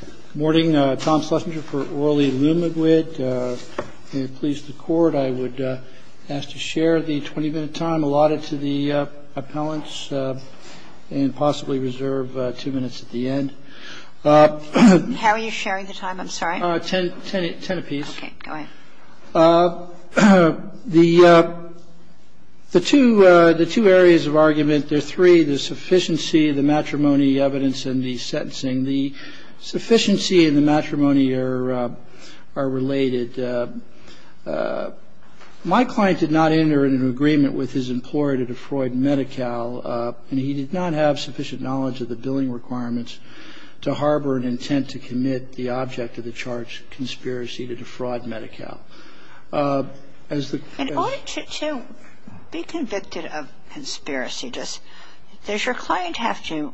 Good morning. Tom Schlesinger for Orlee Lumiguid. May it please the Court, I would ask to share the 20-minute time allotted to the appellants and possibly reserve two minutes at the end. How are you sharing the time? I'm sorry. Ten apiece. Okay. Go ahead. The two areas of argument, there are three, the sufficiency, the matrimony, evidence, and the sentencing. The sufficiency and the matrimony are related. My client did not enter into an agreement with his employer to defraud Medi-Cal, and he did not have sufficient knowledge of the billing requirements to harbor an intent to commit the object of the charge, conspiracy, to defraud Medi-Cal. In order to be convicted of conspiracy, does your client have to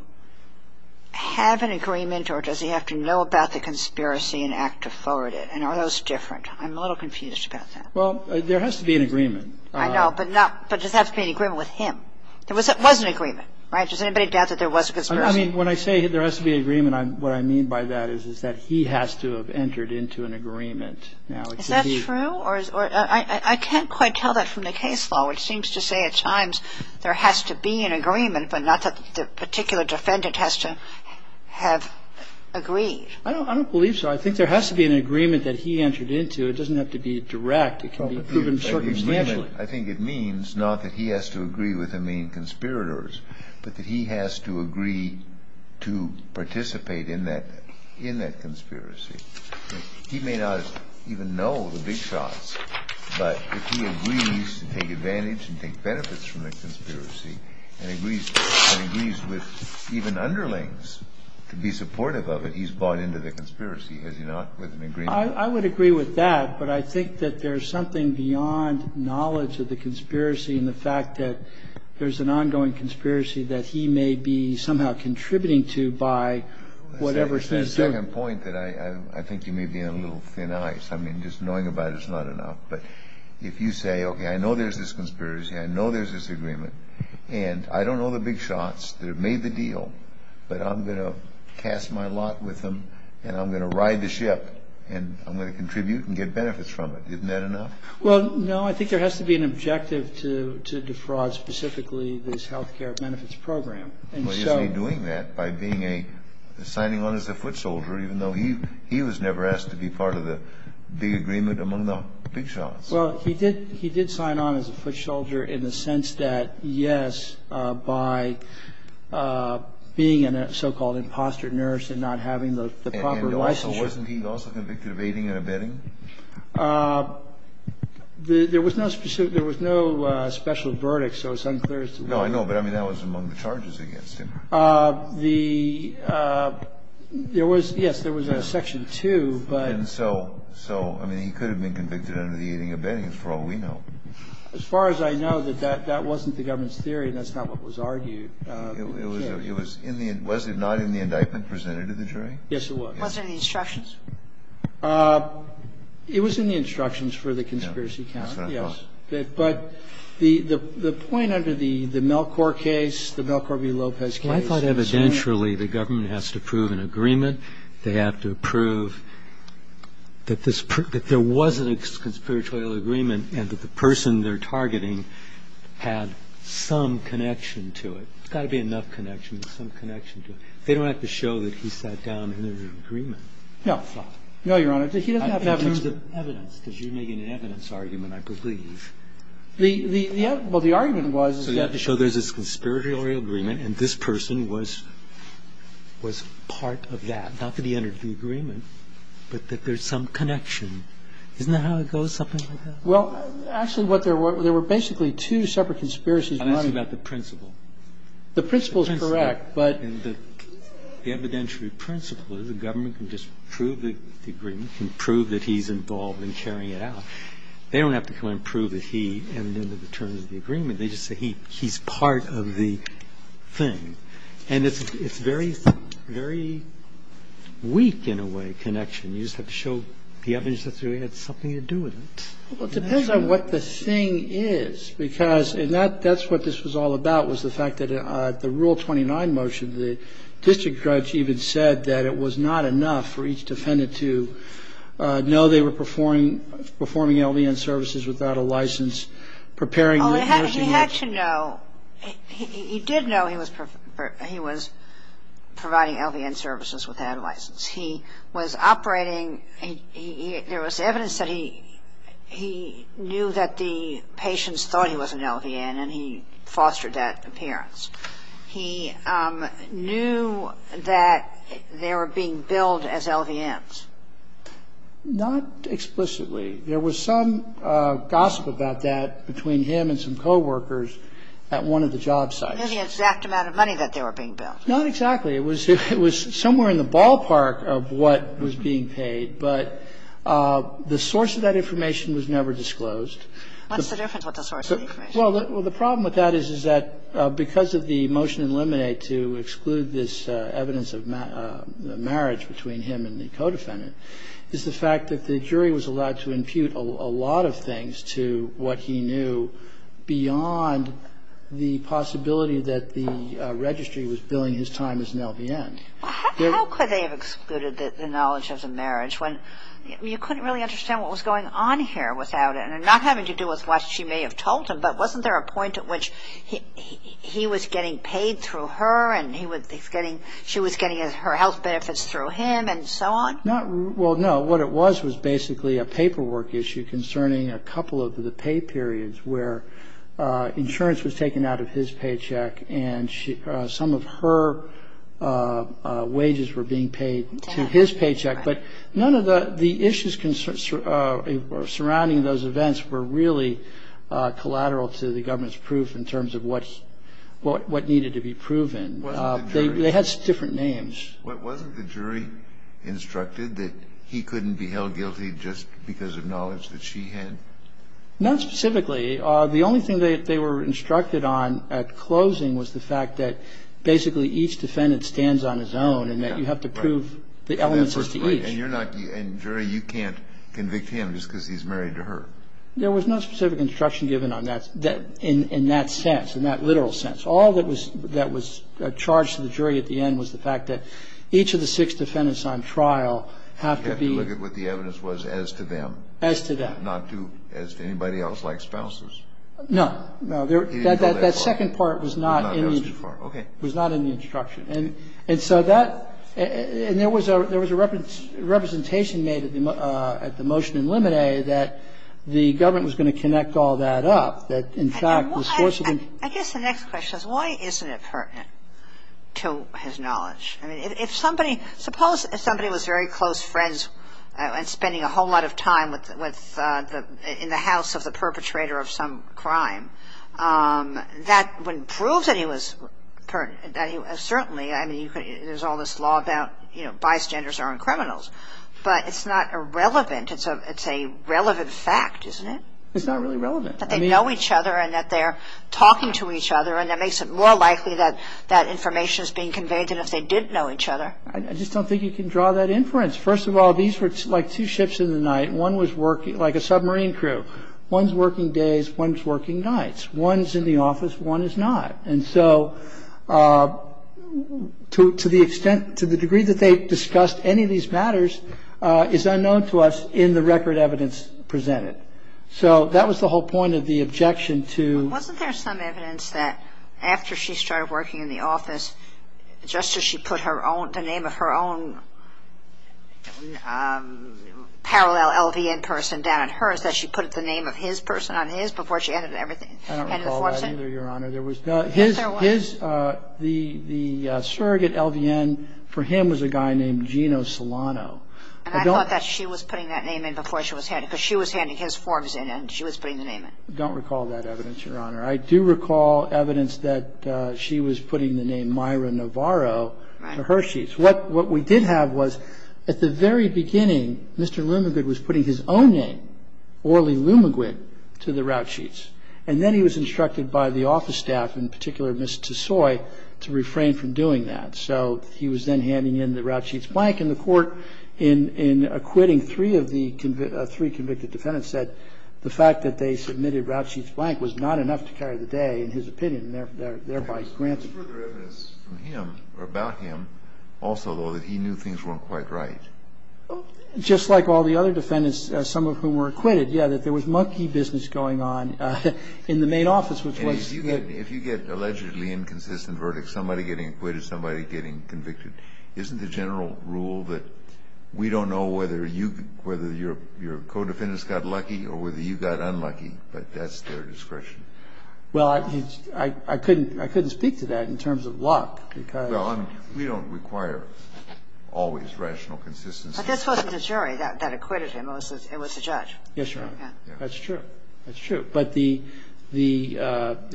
have an agreement or does he have to know about the conspiracy and act to forward it? And are those different? I'm a little confused about that. Well, there has to be an agreement. I know, but does it have to be an agreement with him? There was an agreement, right? Does anybody doubt that there was a conspiracy? I mean, when I say there has to be an agreement, what I mean by that is that he has to have entered into an agreement. Is that true? I can't quite tell that from the case law, which seems to say at times there has to be an agreement, but not that the particular defendant has to have agreed. I don't believe so. I think there has to be an agreement that he entered into. It doesn't have to be direct. It can be proven circumstantially. I think it means not that he has to agree with the main conspirators, but that he has to agree to participate in that conspiracy. He may not even know the big shots, but if he agrees to take advantage and take benefits from the conspiracy and agrees with even underlings to be supportive of it, he's bought into the conspiracy, has he not, with an agreement? I would agree with that, but I think that there's something beyond knowledge of the conspiracy and the fact that there's an ongoing conspiracy that he may be somehow contributing to by whatever sense. That's the second point that I think you may be in a little thin ice. I mean, just knowing about it is not enough. But if you say, okay, I know there's this conspiracy, I know there's this agreement, and I don't know the big shots that have made the deal, but I'm going to cast my lot with them and I'm going to ride the ship and I'm going to contribute and get benefits from it. Isn't that enough? Well, no, I think there has to be an objective to defraud specifically this health care benefits program. Well, isn't he doing that by being a – signing on as a foot soldier, even though he was never asked to be part of the big agreement among the big shots? Well, he did sign on as a foot soldier in the sense that, yes, by being a so-called imposter nurse and not having the proper licensure. And also, wasn't he also convicted of aiding and abetting? There was no special verdict, so it's unclear as to what. No, I know, but I mean, that was among the charges against him. The – there was – yes, there was a section 2, but – And so – so, I mean, he could have been convicted under the aiding and abetting, as far as we know. As far as I know, that wasn't the government's theory and that's not what was argued. It was in the – was it not in the indictment presented to the jury? Yes, it was. Was it in the instructions? That's what I thought. But the point under the Melchor case, the Melchor v. Lopez case – I thought evidentially the government has to prove an agreement. They have to prove that this – that there was a conspiratorial agreement and that the person they're targeting had some connection to it. There's got to be enough connection, some connection to it. They don't have to show that he sat down and there was an agreement. No. No, Your Honor. He doesn't have to have – Evidence. Because you're making an evidence argument, I believe. The – well, the argument was – So there's this conspiratorial agreement and this person was part of that. Not that he entered the agreement, but that there's some connection. Isn't that how it goes? Something like that? Well, actually what there were – there were basically two separate conspiracies. I'm asking about the principle. The principle is correct, but – The evidentiary principle is the government can just prove the agreement, can prove that he's involved in carrying it out. They don't have to come and prove that he entered into the terms of the agreement. They just say he's part of the thing. And it's very weak, in a way, connection. You just have to show the evidence that he had something to do with it. Well, it depends on what the thing is because – and that's what this was all about was the fact that the Rule 29 motion, the district judge even said that it was not enough for each defendant to know they were performing LVN services without a license, preparing the nursing home. Oh, he had to know – he did know he was providing LVN services without a license. He was operating – there was evidence that he knew that the patients thought he was an LVN and he fostered that appearance. He knew that they were being billed as LVNs. Not explicitly. There was some gossip about that between him and some coworkers at one of the job sites. He knew the exact amount of money that they were being billed. Not exactly. It was somewhere in the ballpark of what was being paid, but the source of that information was never disclosed. What's the difference with the source of the information? Well, the problem with that is, is that because of the motion in Lemonade to exclude this evidence of marriage between him and the co-defendant is the fact that the jury was allowed to impute a lot of things to what he knew beyond the possibility that the registry was billing his time as an LVN. How could they have excluded the knowledge of the marriage when you couldn't really understand what was going on here without it? Not having to do with what she may have told him, but wasn't there a point at which he was getting paid through her and she was getting her health benefits through him and so on? Well, no. What it was was basically a paperwork issue concerning a couple of the pay periods where insurance was taken out of his paycheck and some of her wages were being paid to his paycheck. But none of the issues surrounding those events were really collateral to the government's proof in terms of what needed to be proven. They had different names. Wasn't the jury instructed that he couldn't be held guilty just because of knowledge that she had? Not specifically. The only thing that they were instructed on at closing was the fact that basically each defendant stands on his own and that you have to prove the elements as to each. And jury, you can't convict him just because he's married to her. There was no specific instruction given in that sense, in that literal sense. All that was charged to the jury at the end was the fact that each of the six defendants on trial have to be... You have to look at what the evidence was as to them. As to them. Not as to anybody else like spouses. No. That second part was not in the instruction. And so that... And there was a representation made at the motion in Limine that the government was going to connect all that up. That, in fact, the source of the... I guess the next question is why isn't it pertinent to his knowledge? I mean, if somebody... Suppose somebody was very close friends and spending a whole lot of time in the house of the perpetrator of some crime. That wouldn't prove that he was... Certainly, I mean, there's all this law about bystanders aren't criminals. But it's not irrelevant. It's a relevant fact, isn't it? It's not really relevant. That they know each other and that they're talking to each other and that makes it more likely that that information is being conveyed than if they didn't know each other. I just don't think you can draw that inference. First of all, these were like two ships in the night. One was working... Like a submarine crew. One's working days. One's working nights. One's in the office. One is not. And so to the extent... To the degree that they discussed any of these matters is unknown to us in the record evidence presented. So that was the whole point of the objection to... Wasn't there some evidence that after she started working in the office, just as she put her own... The name of her own parallel LVN person down on hers, that she put the name of his person on his before she added everything? I don't recall that either, Your Honor. The surrogate LVN for him was a guy named Gino Solano. And I thought that she was putting that name in before she was handed it because she was handing his forms in and she was putting the name in. I don't recall that evidence, Your Honor. I do recall evidence that she was putting the name Myra Navarro for her sheets. What we did have was at the very beginning, Mr. Lumengood was putting his own name, Orly Lumengood, to the route sheets. And then he was instructed by the office staff, in particular Ms. Tesoi, to refrain from doing that. So he was then handing in the route sheets blank. And the court, in acquitting three convicted defendants, said the fact that they submitted route sheets blank was not enough to carry the day, in his opinion, and thereby granted... Was there further evidence from him or about him also, though, that he knew things weren't quite right? Just like all the other defendants, some of whom were acquitted, yeah, that there was monkey business going on in the main office, which was... And if you get allegedly inconsistent verdicts, somebody getting acquitted, somebody getting convicted, isn't the general rule that we don't know whether your co-defendants got lucky or whether you got unlucky? But that's their discretion. Well, I couldn't speak to that in terms of luck, because... Well, I mean, we don't require always rational consistency. But this wasn't a jury that acquitted him. It was the judge. Yes, Your Honor. That's true. That's true. But the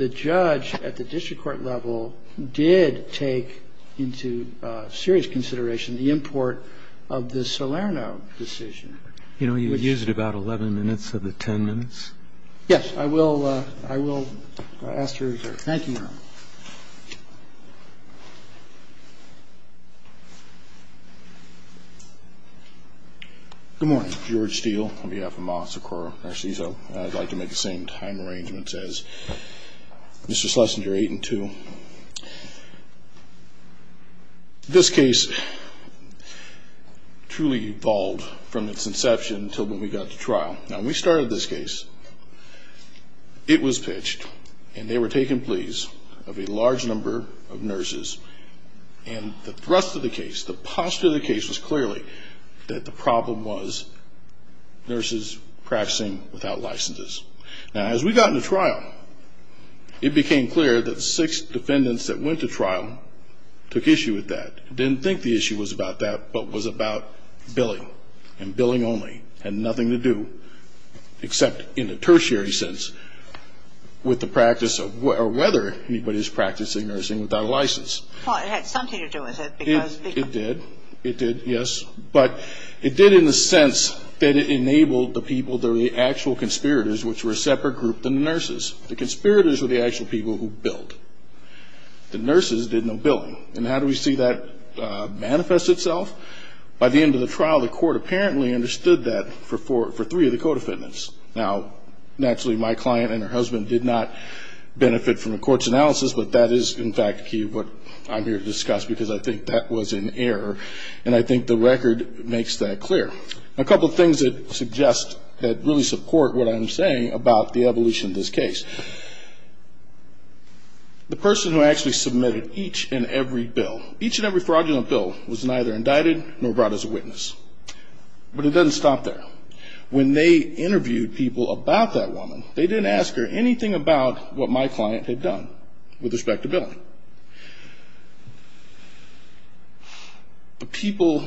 judge at the district court level did take into serious consideration the import of the Salerno decision. You know, you used about 11 minutes of the 10 minutes. Yes. I will ask to reserve. Thank you, Your Honor. Good morning. George Steele on behalf of Moss, Acuora, Narciso. I'd like to make the same time arrangements as Mr. Schlesinger, 8 and 2. This case truly evolved from its inception until when we got to trial. Now, when we started this case, it was pitched, and they were taking pleas of a large number of nurses. And the thrust of the case, the posture of the case, was clearly that the problem was nurses practicing without licenses. Now, as we got into trial, it became clear that the six defendants that went to trial took issue with that, didn't think the issue was about that, but was about billing, and billing only. It had nothing to do, except in a tertiary sense, with the practice of whether anybody is practicing nursing without a license. Well, it had something to do with it, because... It did. It did, yes. But it did in the sense that it enabled the people, the actual conspirators, which were a separate group than the nurses. The conspirators were the actual people who billed. The nurses did no billing. And how do we see that manifest itself? By the end of the trial, the court apparently understood that for three of the co-defendants. Now, naturally, my client and her husband did not benefit from the court's analysis, but that is, in fact, what I'm here to discuss, because I think that was an error, and I think the record makes that clear. A couple of things that suggest, that really support what I'm saying about the evolution of this case. The person who actually submitted each and every bill, was neither indicted nor brought as a witness. But it doesn't stop there. When they interviewed people about that woman, they didn't ask her anything about what my client had done with respect to billing. The people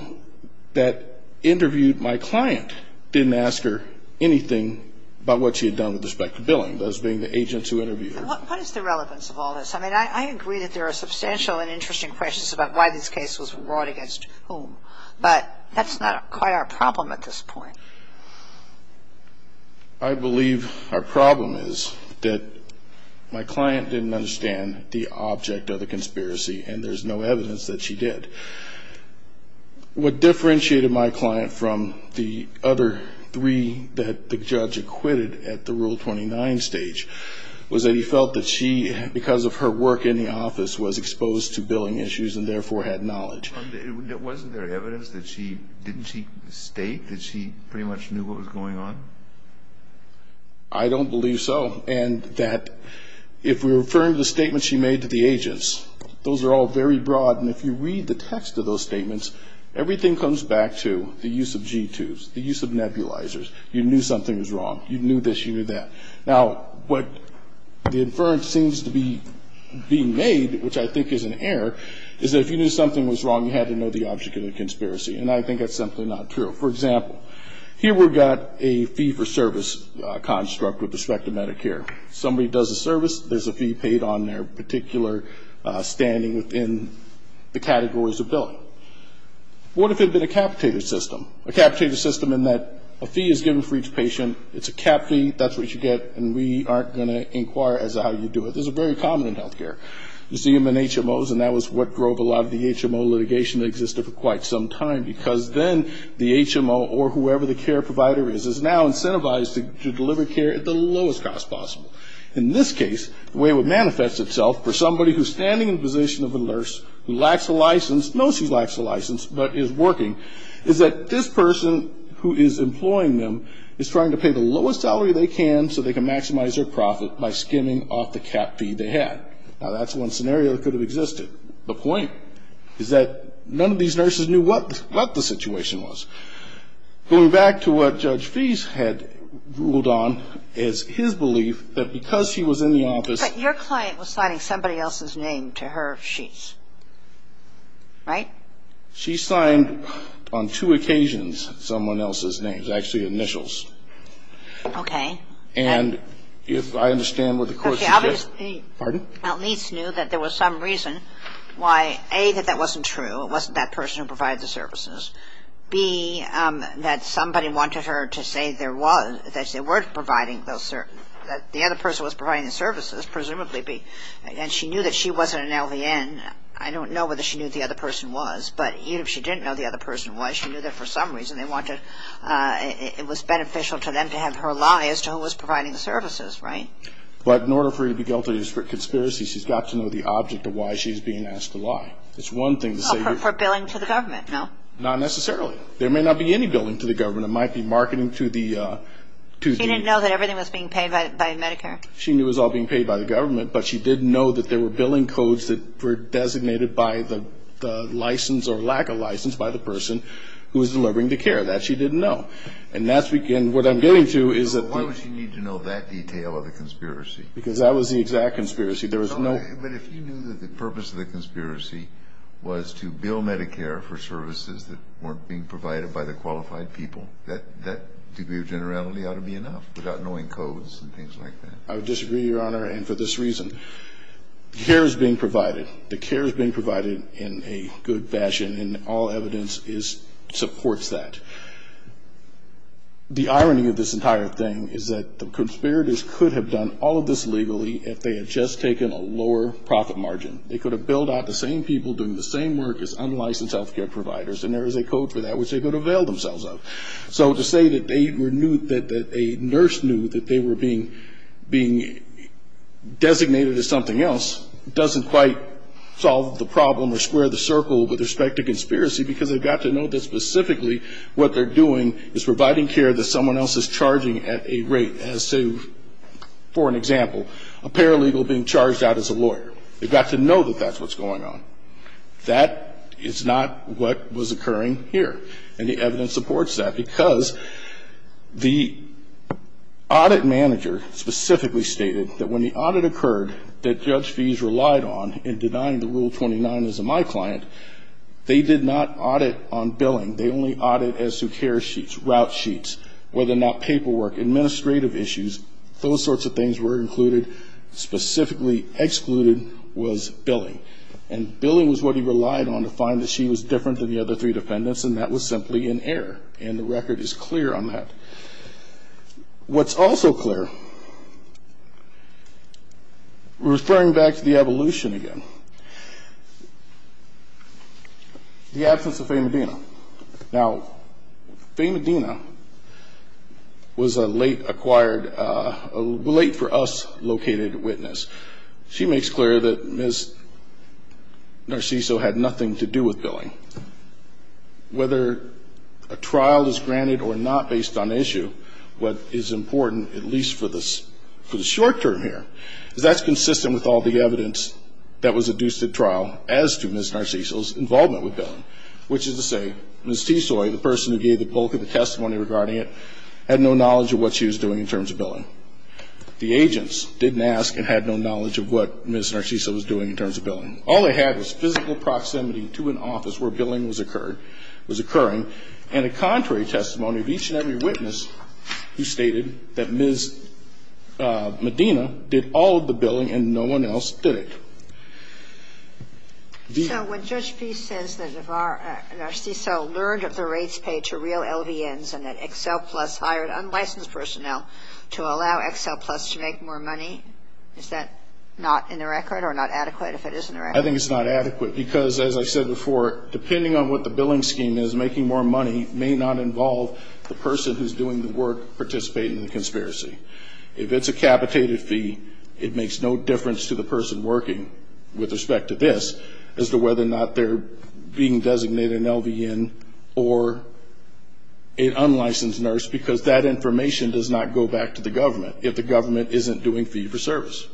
that interviewed my client didn't ask her anything about what she had done with respect to billing, those being the agents who interviewed her. What is the relevance of all this? I mean, I agree that there are substantial and interesting questions about why this case was brought against whom. But that's not quite our problem at this point. I believe our problem is that my client didn't understand the object of the conspiracy, and there's no evidence that she did. What differentiated my client from the other three that the judge acquitted at the Rule 29 stage, was that he felt that she, because of her work in the office, was exposed to billing issues and therefore had knowledge. Wasn't there evidence that she didn't state that she pretty much knew what was going on? I don't believe so. And that if we're referring to the statements she made to the agents, those are all very broad. And if you read the text of those statements, everything comes back to the use of G2s, the use of nebulizers. You knew something was wrong. You knew this, you knew that. Now, what the inference seems to be being made, which I think is an error, is that if you knew something was wrong, you had to know the object of the conspiracy. And I think that's simply not true. For example, here we've got a fee-for-service construct with respect to Medicare. Somebody does a service, there's a fee paid on their particular standing within the categories of billing. What if it had been a capitated system? A capitated system in that a fee is given for each patient, it's a cap fee, that's what you get, and we aren't going to inquire as to how you do it. This is very common in health care. You see them in HMOs, and that was what drove a lot of the HMO litigation that existed for quite some time, because then the HMO or whoever the care provider is, is now incentivized to deliver care at the lowest cost possible. In this case, the way it would manifest itself for somebody who's standing in the position of a nurse, who lacks a license, knows she lacks a license, but is working, is that this person who is employing them is trying to pay the lowest salary they can so they can maximize their profit by skimming off the cap fee they had. Now, that's one scenario that could have existed. The point is that none of these nurses knew what the situation was. Going back to what Judge Fease had ruled on as his belief, that because he was in the office. But your client was signing somebody else's name to her sheets, right? She signed on two occasions someone else's names, actually initials. Okay. And if I understand what the question is. Okay. Pardon? At least knew that there was some reason why, A, that that wasn't true, it wasn't that person who provided the services. B, that somebody wanted her to say there was, that they weren't providing those services, that the other person was providing the services, presumably, B. And she knew that she wasn't an LVN. I don't know whether she knew who the other person was, but even if she didn't know who the other person was, she knew that for some reason they wanted, it was beneficial to them to have her lie as to who was providing the services, right? But in order for her to be guilty of conspiracy, she's got to know the object of why she's being asked to lie. It's one thing to say. For billing to the government, no? Not necessarily. There may not be any billing to the government. It might be marketing to the... She didn't know that everything was being paid by Medicare? She knew it was all being paid by the government, but she didn't know that there were billing codes that were designated by the license or lack of license by the person who was delivering the care. That she didn't know. And that's... And what I'm getting to is that... So why would she need to know that detail of the conspiracy? Because that was the exact conspiracy. There was no... But if you knew that the purpose of the conspiracy was to bill Medicare for services that weren't being provided by the qualified people, that degree of generality ought to be enough without knowing codes and things like that. I would disagree, Your Honor. And for this reason, care is being provided. The care is being provided in a good fashion, and all evidence supports that. The irony of this entire thing is that the conspirators could have done all of this legally if they had just taken a lower profit margin. They could have billed out the same people doing the same work as unlicensed health care providers, and there is a code for that which they could avail themselves of. So to say that they knew that a nurse knew that they were being designated as something else doesn't quite solve the problem or square the circle with respect to conspiracy because they've got to know that specifically what they're doing is providing care that someone else is charging at a rate as to, for an example, a paralegal being charged out as a lawyer. They've got to know that that's what's going on. That is not what was occurring here. And the evidence supports that because the audit manager specifically stated that when the audit occurred that Judge Fies relied on in denying the Rule 29 as a my client, they did not audit on billing. They only audited as to care sheets, route sheets, whether or not paperwork, administrative issues, those sorts of things were included. Specifically excluded was billing. And billing was what he relied on to find that she was different than the other three defendants, and that was simply in error. And the record is clear on that. What's also clear, referring back to the evolution again, the absence of Faye Medina. Now, Faye Medina was a late-acquired, late-for-us-located witness. She makes clear that Ms. Narciso had nothing to do with billing. Whether a trial is granted or not based on issue, what is important, at least for the short term here, is that's consistent with all the evidence that was adduced at trial as to Ms. Narciso's involvement with billing, which is to say Ms. Tsoy, the person who gave the bulk of the testimony regarding it, had no knowledge of what she was doing in terms of billing. The agents didn't ask and had no knowledge of what Ms. Narciso was doing in terms of billing. All they had was physical proximity to an office where billing was occurred or was occurring, and a contrary testimony of each and every witness who stated that Ms. Medina did all of the billing and no one else did it. So when Judge Fee says that Narciso learned of the rates paid to real LVNs and that would allow Excel Plus to make more money, is that not in the record or not adequate if it is in the record? I think it's not adequate because, as I said before, depending on what the billing scheme is, making more money may not involve the person who's doing the work participating in the conspiracy. If it's a capitated fee, it makes no difference to the person working with respect to this as to whether or not they're being designated an LVN or an unlicensed nurse because that information does not go back to the government if the government isn't doing fee-for-service.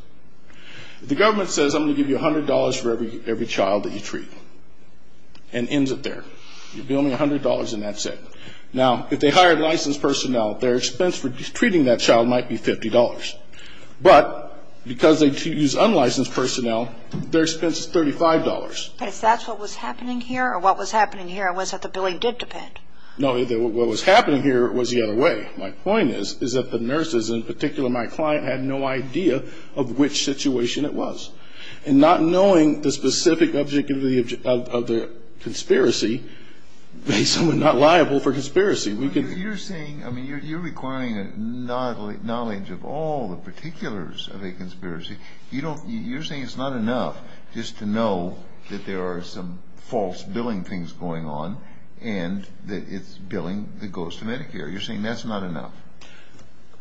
If the government says, I'm going to give you $100 for every child that you treat and ends it there, you'll be only $100 and that's it. Now, if they hired licensed personnel, their expense for treating that child might be $50. But because they choose unlicensed personnel, their expense is $35. Is that what was happening here or what was happening here was that the billing did depend? No, what was happening here was the other way. My point is, is that the nurses, in particular my client, had no idea of which situation it was. And not knowing the specific objectivity of the conspiracy made someone not liable for conspiracy. You're saying, I mean, you're requiring knowledge of all the particulars of a conspiracy. You don't, you're saying it's not enough just to know that there are some false billing things going on and that it's billing that goes to Medicare. You're saying that's not enough.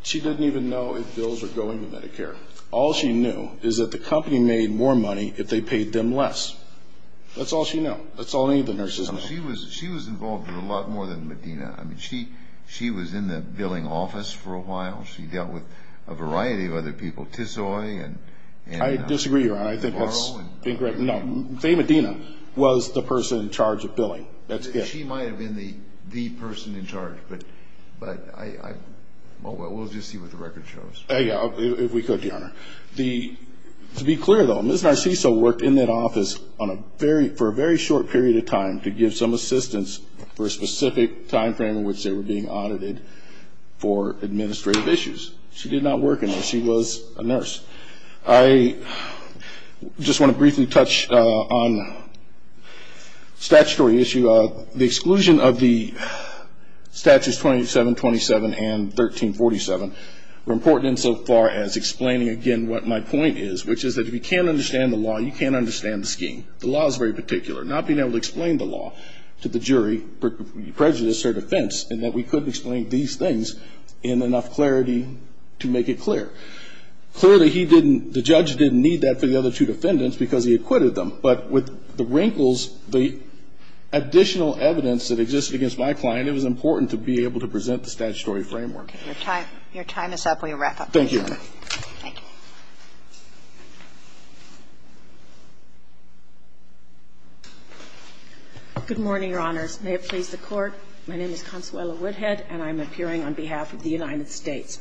She didn't even know if bills were going to Medicare. All she knew is that the company made more money if they paid them less. That's all she knew. That's all any of the nurses knew. She was involved in it a lot more than Medina. I mean, she was in the billing office for a while. She dealt with a variety of other people, Tisoy. I disagree, Ron. I think that's incorrect. No, Faye Medina was the person in charge of billing. She might have been the person in charge. But we'll just see what the record shows. If we could, Your Honor. To be clear, though, Ms. Narciso worked in that office for a very short period of time to give some assistance for a specific time frame in which they were being audited for administrative issues. She did not work in there. She was a nurse. I just want to briefly touch on statutory issue. The exclusion of the Statutes 2727 and 1347 were important insofar as explaining, again, what my point is, which is that if you can't understand the law, you can't understand the scheme. The law is very particular. Not being able to explain the law to the jury, prejudice or defense, and that we couldn't explain these things in enough clarity to make it clear. Clearly, he didn't, the judge didn't need that for the other two defendants because he acquitted them. But with the wrinkles, the additional evidence that existed against my client, it was important to be able to present the statutory framework. Okay. Your time is up. We will wrap up. Thank you, Your Honor. Thank you. Good morning, Your Honors. May it please the Court. My name is Consuela Woodhead, and I'm appearing on behalf of the United States.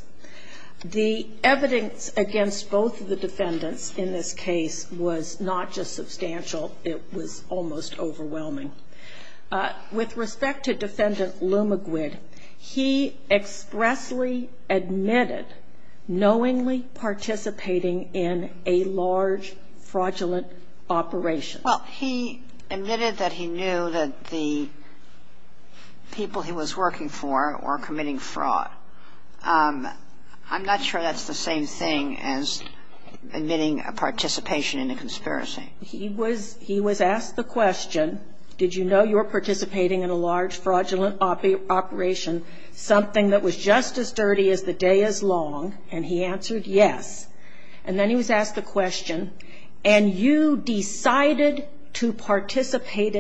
The evidence against both of the defendants in this case was not just substantial, it was almost overwhelming. With respect to Defendant Lumaguid, he expressly admitted knowingly participating in a large fraudulent operation. Well, he admitted that he knew that the people he was working for were committing fraud. I'm not sure that's the same thing as admitting a participation in a conspiracy. He was asked the question, did you know you were participating in a large fraudulent operation, something that was just as dirty as the day is long, and he answered yes. And then he was asked the question, and you decided to participate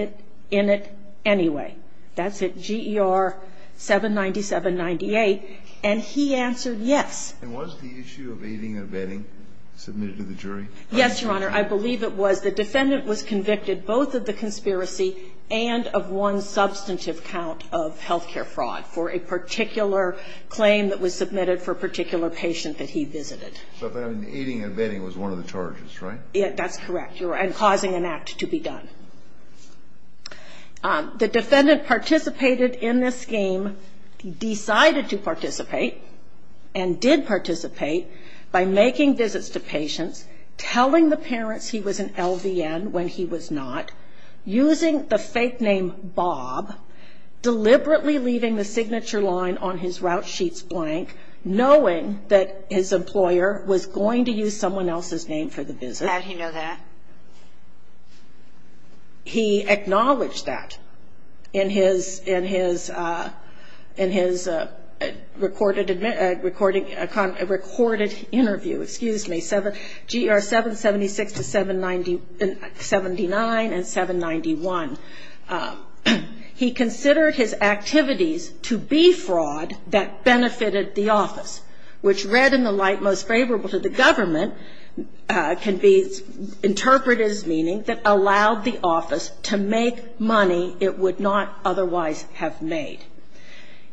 in it anyway. That's it, GER 79798. And he answered yes. And was the issue of aiding and abetting submitted to the jury? Yes, Your Honor. I believe it was. The defendant was convicted both of the conspiracy and of one substantive count of health care fraud for a particular claim that was submitted for a particular patient that he visited. So then aiding and abetting was one of the charges, right? That's correct. And causing an act to be done. The defendant participated in this game, decided to participate, and did participate by making visits to patients, telling the parents he was an LVN when he was not, using the fake name Bob, deliberately leaving the signature line on his route sheets blank, knowing that his employer was going to use someone else's name for the visit. How did he know that? He acknowledged that in his recorded interview, excuse me, GER 776-79 and 791. He considered his activities to be fraud that benefited the office, which read in the light most favorable to the government, can be interpreted as meaning that allowed the office to make money it would not otherwise have made.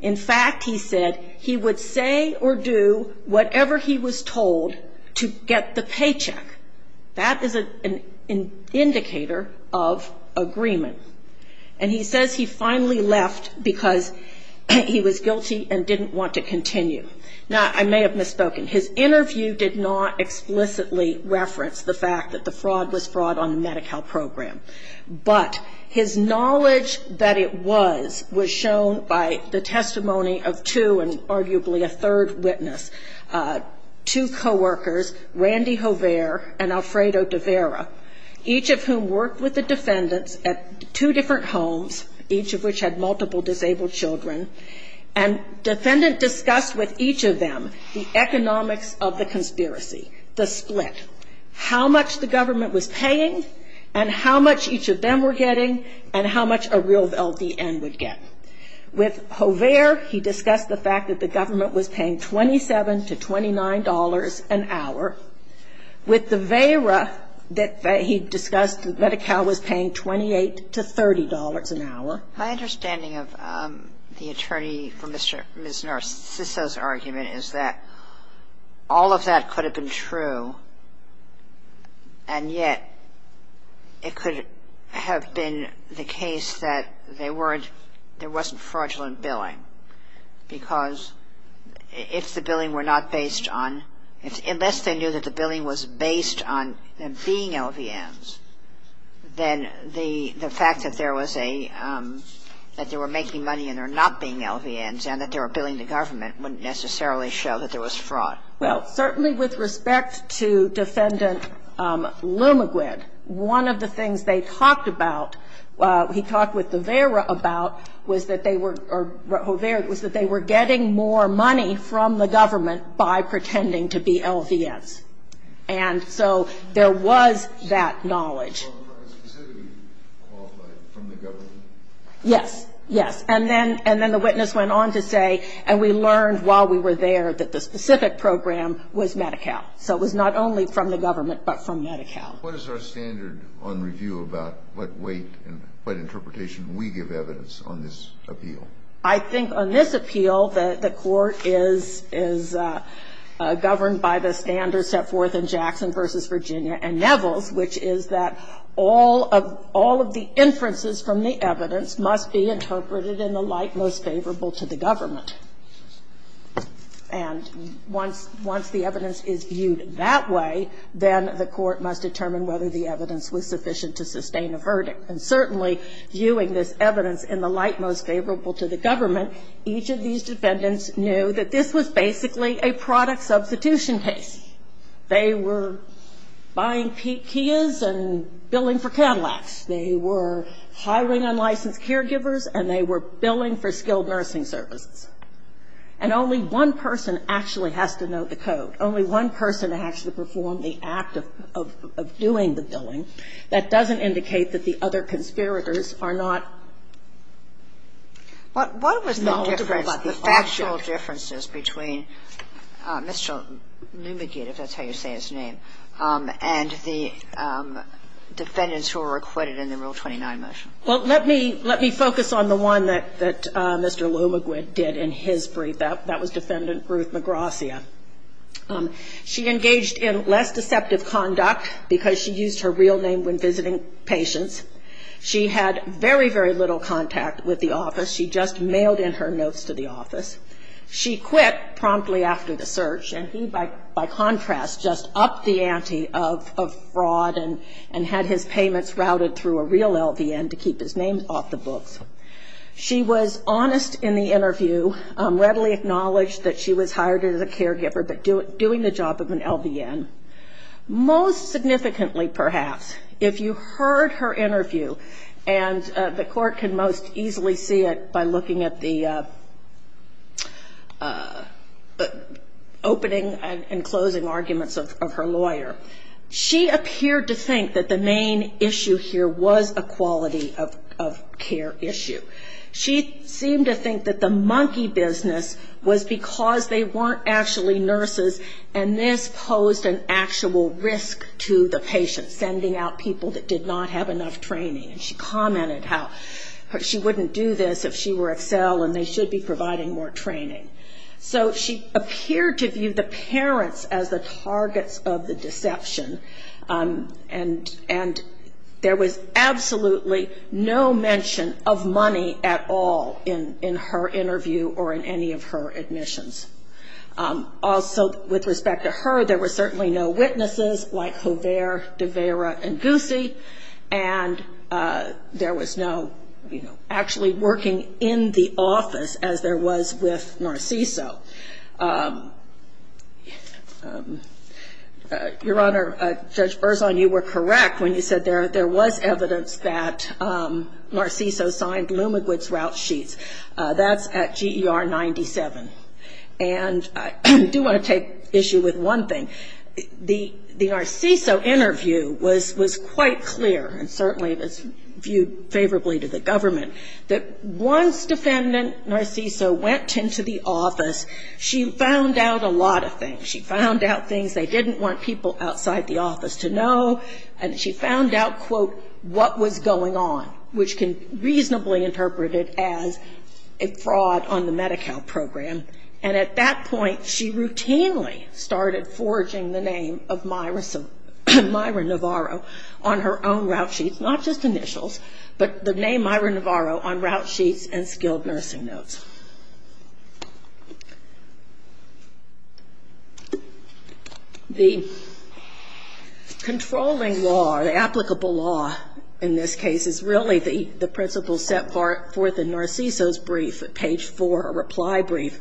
In fact, he said he would say or do whatever he was told to get the paycheck. That is an indicator of agreement. And he says he finally left because he was guilty and didn't want to continue. Now, I may have misspoken. His interview did not explicitly reference the fact that the fraud was fraud on the Medi-Cal program. But his knowledge that it was was shown by the testimony of two, and arguably a third witness, two coworkers, Randy Hovere and Alfredo Devera, each of whom worked with the defendants at two different homes, each of which had multiple disabled children. And defendant discussed with each of them the economics of the conspiracy, the split, how much the government was paying and how much each of them were getting and how much a real LDN would get. With Hovere, he discussed the fact that the government was paying $27 to $29 an hour. With Devera, he discussed that Medi-Cal was paying $28 to $30 an hour. My understanding of the attorney for Ms. Narciso's argument is that all of that could have been true, and yet it could have been the case that they weren't, there wasn't fraudulent billing. Because if the billing were not based on, unless they knew that the billing was based on them being LDNs, then the fact that there was a, that they were making money and they were not being LDNs and that they were billing the government wouldn't necessarily show that there was fraud. Well, certainly with respect to Defendant Lumigrid, one of the things they talked about, he talked with Devera about, was that they were, or Hovere, was that they were getting more money from the government by pretending to be LDNs. And so there was that knowledge. Was the program specifically qualified from the government? Yes. Yes. And then the witness went on to say, and we learned while we were there that the specific program was Medi-Cal. So it was not only from the government but from Medi-Cal. What is our standard on review about what weight and what interpretation we give evidence on this appeal? I think on this appeal, the court is governed by the standards set forth in Jackson v. Virginia and Nevels, which is that all of the inferences from the evidence must be interpreted in the light most favorable to the government. And once the evidence is viewed that way, then the court must determine whether the evidence was sufficient to sustain a verdict. And certainly, viewing this evidence in the light most favorable to the government, each of these defendants knew that this was basically a product substitution case. They were buying Kia's and billing for Cadillac's. They were hiring unlicensed caregivers, and they were billing for skilled nursing services. And only one person actually has to know the code. Only one person has to perform the act of doing the billing. That doesn't indicate that the other conspirators are not knowledgeable about the object. What was the difference, the factual differences between Mr. Lumigid, if that's how you say his name, and the defendants who were acquitted in the Rule 29 motion? Well, let me focus on the one that Mr. Lumigid did in his brief. That was Defendant Ruth Magracia. She engaged in less deceptive conduct because she used her real name when visiting patients. She had very, very little contact with the office. She just mailed in her notes to the office. She quit promptly after the search, and he, by contrast, just upped the ante of fraud and had his payments routed through a real LVN to keep his name off the books. She was honest in the interview, readily acknowledged that she was hired as a caregiver, but doing the job of an LVN. Most significantly, perhaps, if you heard her interview, and the court can most easily see it by looking at the opening and closing arguments of her lawyer, she appeared to think that the main issue here was a quality of care issue. She seemed to think that the monkey business was because they weren't actually nurses, and this posed an actual risk to the patient, sending out people that did not have enough training. And she commented how she wouldn't do this if she were at cell and they should be providing more training. So she appeared to view the parents as the targets of the deception, and there was absolutely no mention of money at all in her interview or in any of her admissions. Also, with respect to her, there were certainly no witnesses like Hover, DeVera, and Goosey, and there was no, you know, actually working in the office as there was with Narciso. Your Honor, Judge Berzon, you were correct when you said there was evidence that Narciso signed LumaGwid's route sheets. That's at GER 97, and I do want to take issue with one thing. The Narciso interview was quite clear, and certainly it was viewed favorably to the government, that once defendant Narciso went into the office, she found out a lot of things. She found out things they didn't want people outside the office to know, and she found out, quote, what was going on, which can reasonably interpret it as a fraud on the Medi-Cal program. And at that point, she routinely started forging the name of Myra Navarro on her own route sheets, not just initials, but the name Myra Navarro on route sheets and skilled nursing notes. The controlling law or the applicable law in this case is really the principle set forth in Narciso's brief at page four, a reply brief,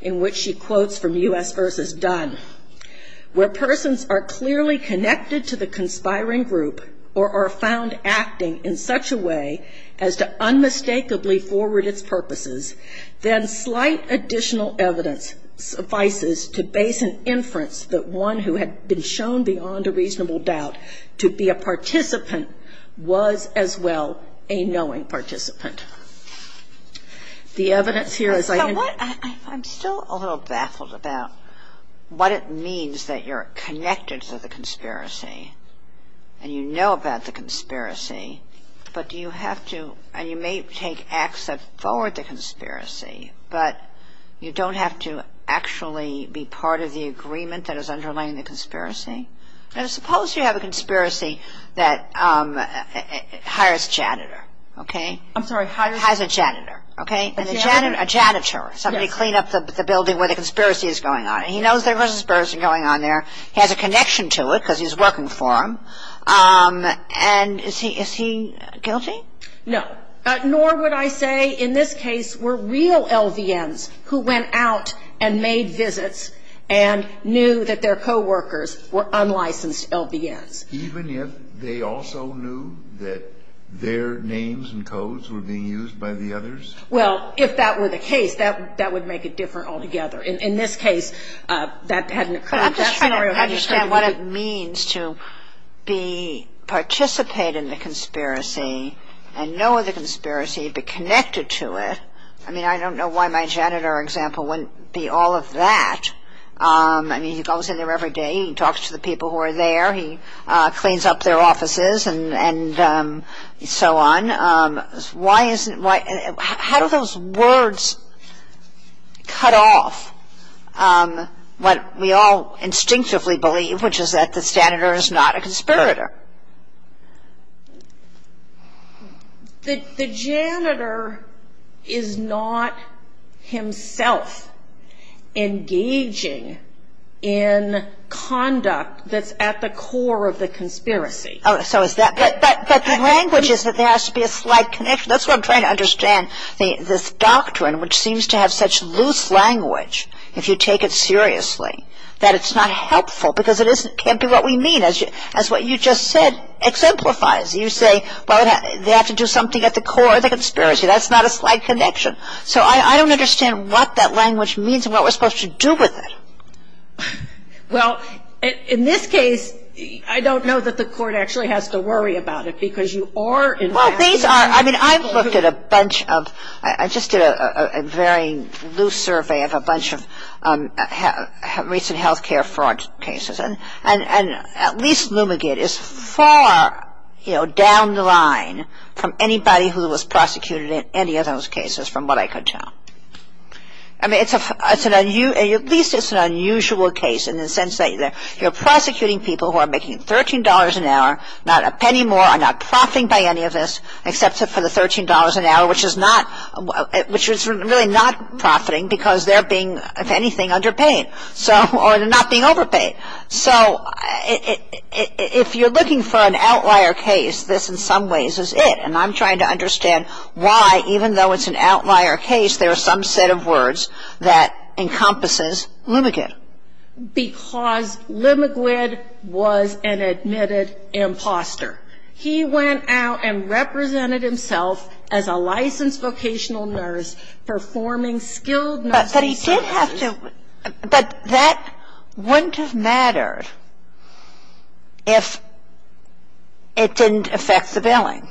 in which she quotes from U.S. versus Dunn, where persons are clearly connected to the conspiring group or are found acting in such a way as to unmistakably forward its purposes, then slight additional evidence suffices to base an inference that one who had been shown beyond a reasonable doubt to be a participant was as well a knowing participant. The evidence here is I can ‑‑ I'm still a little baffled about what it means that you're connected to the conspiracy and you know about the conspiracy, but do you have to ‑‑ and you may take acts that forward the conspiracy, but you don't have to actually be part of the agreement that is underlying the conspiracy? Now, suppose you have a conspiracy that hires a janitor, okay? I'm sorry, hires a janitor. A janitor, somebody to clean up the building where the conspiracy is going on. He knows there was a conspiracy going on there. He has a connection to it because he's working for them, and is he guilty? No, nor would I say in this case were real LVNs who went out and made visits and knew that their coworkers were unlicensed LVNs. Even if they also knew that their names and codes were being used by the others? Well, if that were the case, that would make it different altogether. In this case, that hadn't occurred. I'm just trying to understand what it means to participate in the conspiracy and know the conspiracy, be connected to it. I mean, I don't know why my janitor example wouldn't be all of that. I mean, he goes in there every day, he talks to the people who are there, he cleans up their offices and so on. How do those words cut off what we all instinctively believe, which is that the janitor is not a conspirator? The janitor is not himself engaging in conduct that's at the core of the conspiracy. But the language is that there has to be a slight connection. That's what I'm trying to understand, this doctrine which seems to have such loose language, if you take it seriously, that it's not helpful because it can't be what we mean, as what you just said exemplifies. You say, well, they have to do something at the core of the conspiracy. That's not a slight connection. So I don't understand what that language means and what we're supposed to do with it. Well, in this case, I don't know that the court actually has to worry about it, because you are inviting people. Well, these are, I mean, I've looked at a bunch of, I just did a very loose survey of a bunch of recent health care fraud cases. And at least Lumigant is far, you know, down the line from anybody who was prosecuted in any of those cases, from what I could tell. I mean, at least it's an unusual case in the sense that you're prosecuting people who are making $13 an hour, not a penny more, are not profiting by any of this, except for the $13 an hour, which is really not profiting, because they're being, if anything, underpaid, or they're not being overpaid. So if you're looking for an outlier case, this in some ways is it. And I'm trying to understand why, even though it's an outlier case, there are some set of words that encompasses Lumigant. Because Lumigant was an admitted imposter. He went out and represented himself as a licensed vocational nurse performing skilled nursing services. But he did have to. But that wouldn't have mattered if it didn't affect the billing.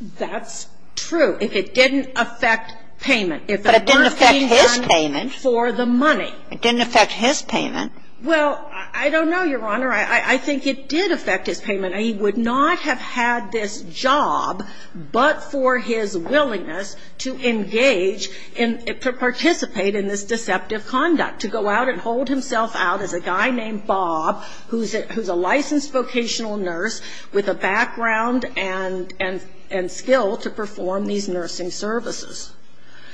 That's true. If it didn't affect payment. But it didn't affect his payment. For the money. It didn't affect his payment. Well, I don't know, Your Honor. I think it did affect his payment. He would not have had this job but for his willingness to engage in, to participate in this deceptive conduct, to go out and hold himself out as a guy named Bob, who's a licensed vocational nurse with a background and skill to perform these nursing services.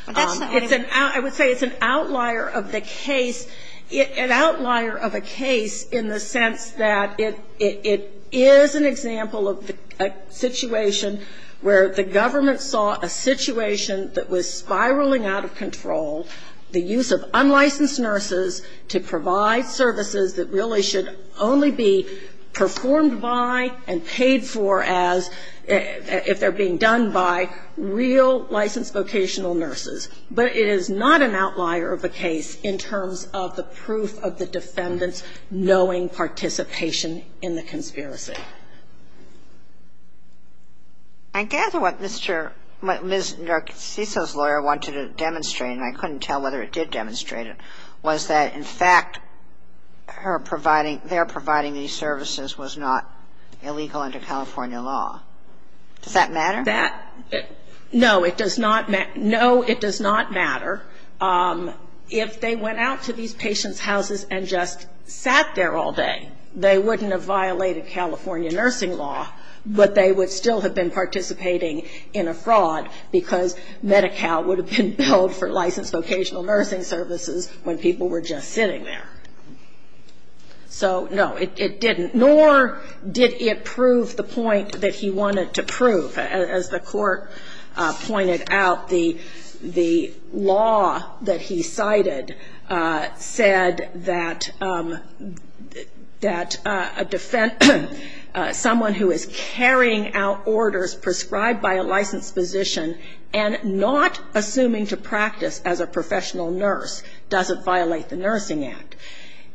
I would say it's an outlier of the case, an outlier of a case in the sense that it is an example of a situation where the government saw a situation that was spiraling out of control, the use of unlicensed nurses to provide services that really should only be performed by and paid for as if they're being done by real licensed vocational nurses. But it is not an outlier of the case in terms of the proof of the defendant's knowing participation in the conspiracy. I gather what Mr. — what Ms. Narciso's lawyer wanted to demonstrate, and I couldn't tell whether it did demonstrate it, was that in fact her providing — their providing these services was not illegal under California law. Does that matter? That — No, it does not matter. If they went out to these patients' houses and just sat there all day, they wouldn't have violated California nursing law, but they would still have been participating in a fraud because Medi-Cal would have been billed for licensed vocational nursing services when people were just sitting there. So, no, it didn't. Nor did it prove the point that he wanted to prove. As the Court pointed out, the law that he cited said that a defendant, someone who is carrying out orders prescribed by a licensed physician and not assuming to practice as a professional nurse doesn't violate the Nursing Act.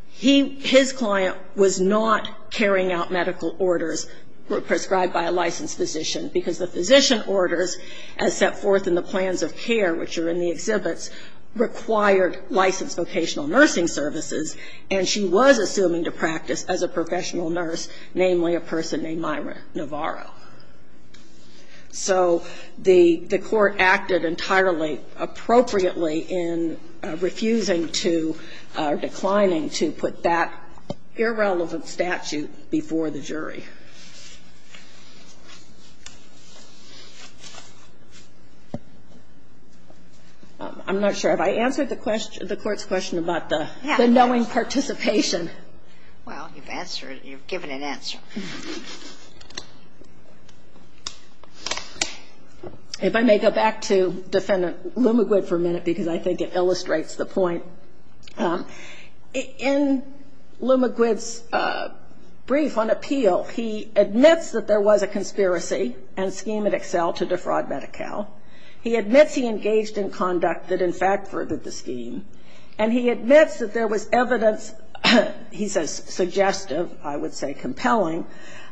His client was not carrying out medical orders prescribed by a licensed physician because the physician orders as set forth in the plans of care, which are in the exhibits, required licensed vocational nursing services, and she was assuming to practice as a professional nurse, namely a person named Myra Navarro. So the Court acted entirely appropriately in refusing to, declining to put that irrelevant statute before the jury. I'm not sure. Have I answered the Court's question about the knowing participation? Well, you've answered it. You've given an answer. If I may go back to Defendant Lumagwid for a minute because I think it illustrates the point. In Lumagwid's brief on appeal, he admits that there was a conspiracy and scheme at Excel to defraud Medi-Cal. He admits he engaged in conduct that, in fact, furthered the scheme, and he admits that there was evidence, he says suggestive, I would say compelling,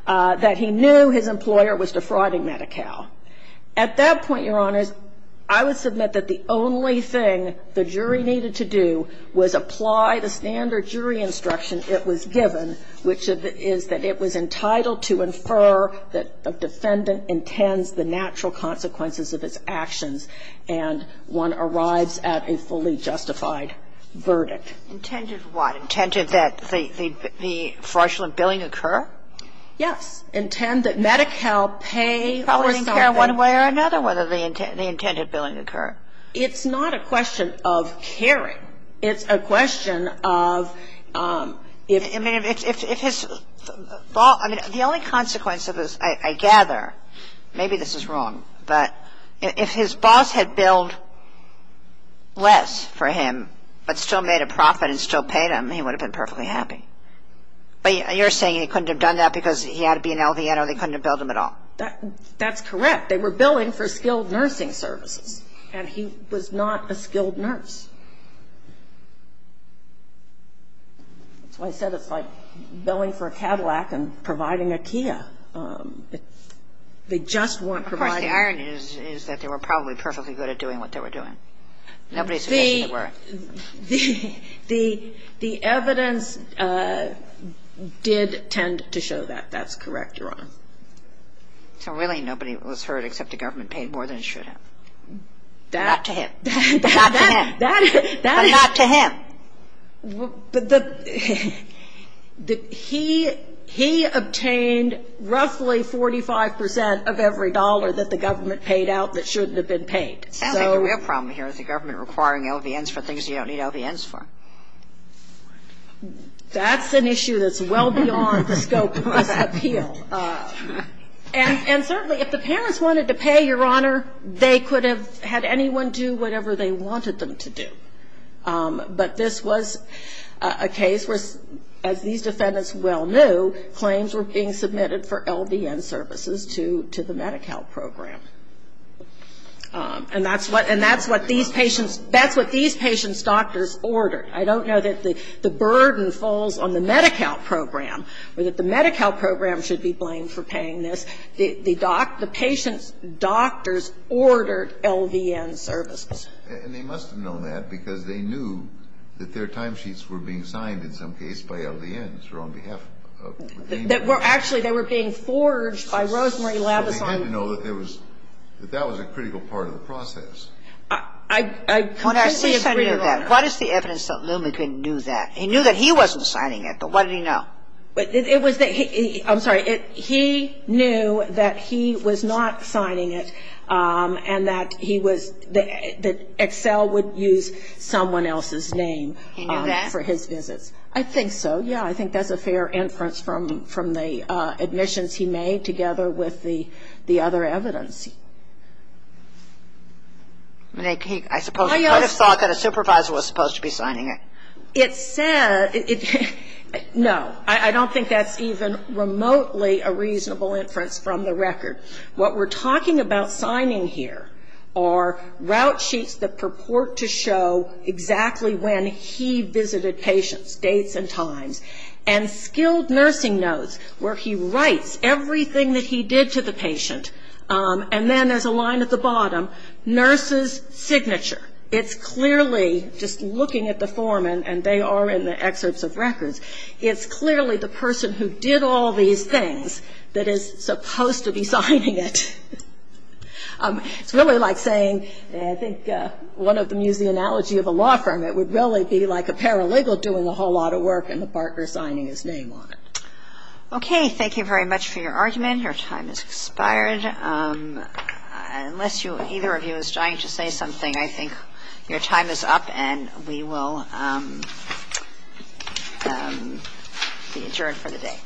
that he knew his employer was defrauding Medi-Cal. At that point, Your Honors, I would submit that the only thing the jury needed to do was apply the standard jury instruction it was given, which is that it was entitled to infer that a defendant intends the natural consequences of its actions and one arrives at a fully justified verdict. Intended what? Intended that the fraudulent billing occur? Yes. Intended that Medi-Cal pay for something. He probably didn't care one way or another whether the intended billing occur. It's not a question of hearing. It's a question of if his boss – I mean, the only consequence of this, I gather Maybe this is wrong, but if his boss had billed less for him, but still made a profit and still paid him, he would have been perfectly happy. But you're saying he couldn't have done that because he had to be an LVN or they couldn't have billed him at all. That's correct. They were billing for skilled nursing services, and he was not a skilled nurse. That's why I said it's like billing for a Cadillac and providing a Kia. They just weren't providing – Of course, the irony is that they were probably perfectly good at doing what they were doing. Nobody suggested they were. The evidence did tend to show that. That's correct, Your Honor. So really nobody was hurt except the government paid more than it should have. Not to him. Not to him. That is – But not to him. He obtained roughly 45 percent of every dollar that the government paid out that shouldn't have been paid. It sounds like the real problem here is the government requiring LVNs for things you don't need LVNs for. That's an issue that's well beyond the scope of appeal. And certainly if the parents wanted to pay, Your Honor, they could have had anyone do whatever they wanted them to do. But this was a case where, as these defendants well knew, claims were being submitted for LVN services to the Medi-Cal program. And that's what these patients' doctors ordered. I don't know that the burden falls on the Medi-Cal program or that the Medi-Cal program should be blamed for paying this. But the fact is that the doctors, the patients' doctors ordered LVN services. And they must have known that because they knew that their timesheets were being signed in some case by LVNs on behalf of the claimant. Actually, they were being forged by Rosemary Labison. But they had to know that there was – that that was a critical part of the process. I completely agree with that. What is the evidence that Lew McGrinn knew that? He knew that he wasn't signing it, but what did he know? I'm sorry, he knew that he was not signing it and that he was – that Excel would use someone else's name for his visits. He knew that? I think so, yeah. I think that's a fair inference from the admissions he made together with the other evidence. I suppose he might have thought that a supervisor was supposed to be signing it. It said – no. I don't think that's even remotely a reasonable inference from the record. What we're talking about signing here are route sheets that purport to show exactly when he visited patients, dates and times, and skilled nursing notes where he writes everything that he did to the patient. And then there's a line at the bottom, nurse's signature. It's clearly, just looking at the form, and they are in the excerpts of records, it's clearly the person who did all these things that is supposed to be signing it. It's really like saying – I think one of them used the analogy of a law firm. It would really be like a paralegal doing a whole lot of work and the partner signing his name on it. Okay. Thank you very much for your argument. Your time has expired. Unless you – either of you is dying to say something, I think your time is up and we will be adjourned for the day.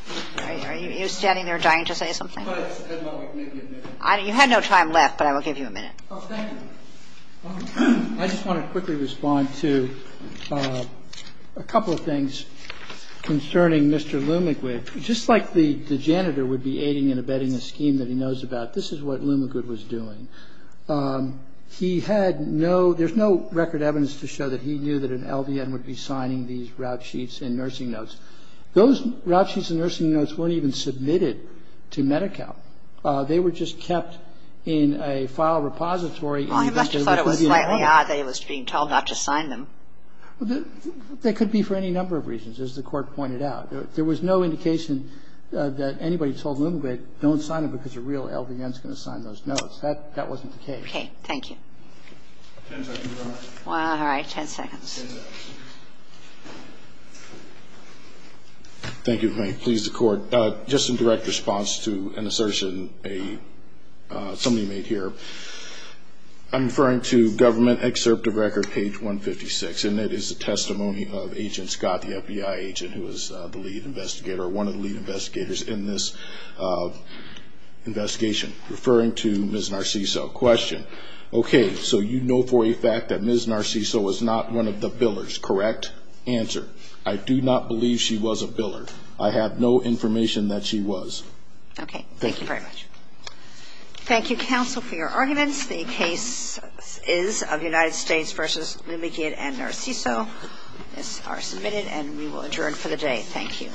Are you standing there dying to say something? You had no time left, but I will give you a minute. Oh, thank you. I just want to quickly respond to a couple of things concerning Mr. Leumannquist. Just like the janitor would be aiding and abetting a scheme that he knows about, this is what Leumannquist was doing. He had no – there's no record evidence to show that he knew that an LVN would be signing these route sheets and nursing notes. Those route sheets and nursing notes weren't even submitted to Medi-Cal. They were just kept in a file repository. He must have thought it was slightly odd that he was being told not to sign them. That could be for any number of reasons, as the Court pointed out. There was no indication that anybody told Leumannquist don't sign them because a real LVN is going to sign those notes. That wasn't the case. Okay. Thank you. Ten seconds, Your Honor. All right. Ten seconds. Thank you. May it please the Court. Just in direct response to an assertion somebody made here, I'm referring to Government Excerpt of Record, page 156, and it is a testimony of Agent Scott, the FBI agent who was the lead investigator, one of the lead investigators in this investigation, referring to Ms. Narciso. Question. Okay. So you know for a fact that Ms. Narciso was not one of the billers, correct? Answer. I do not believe she was a biller. I have no information that she was. Okay. Thank you very much. Thank you, counsel, for your arguments. The case is of United States v. Leumannquist and Narciso. This is submitted and we will adjourn for the day. Thank you.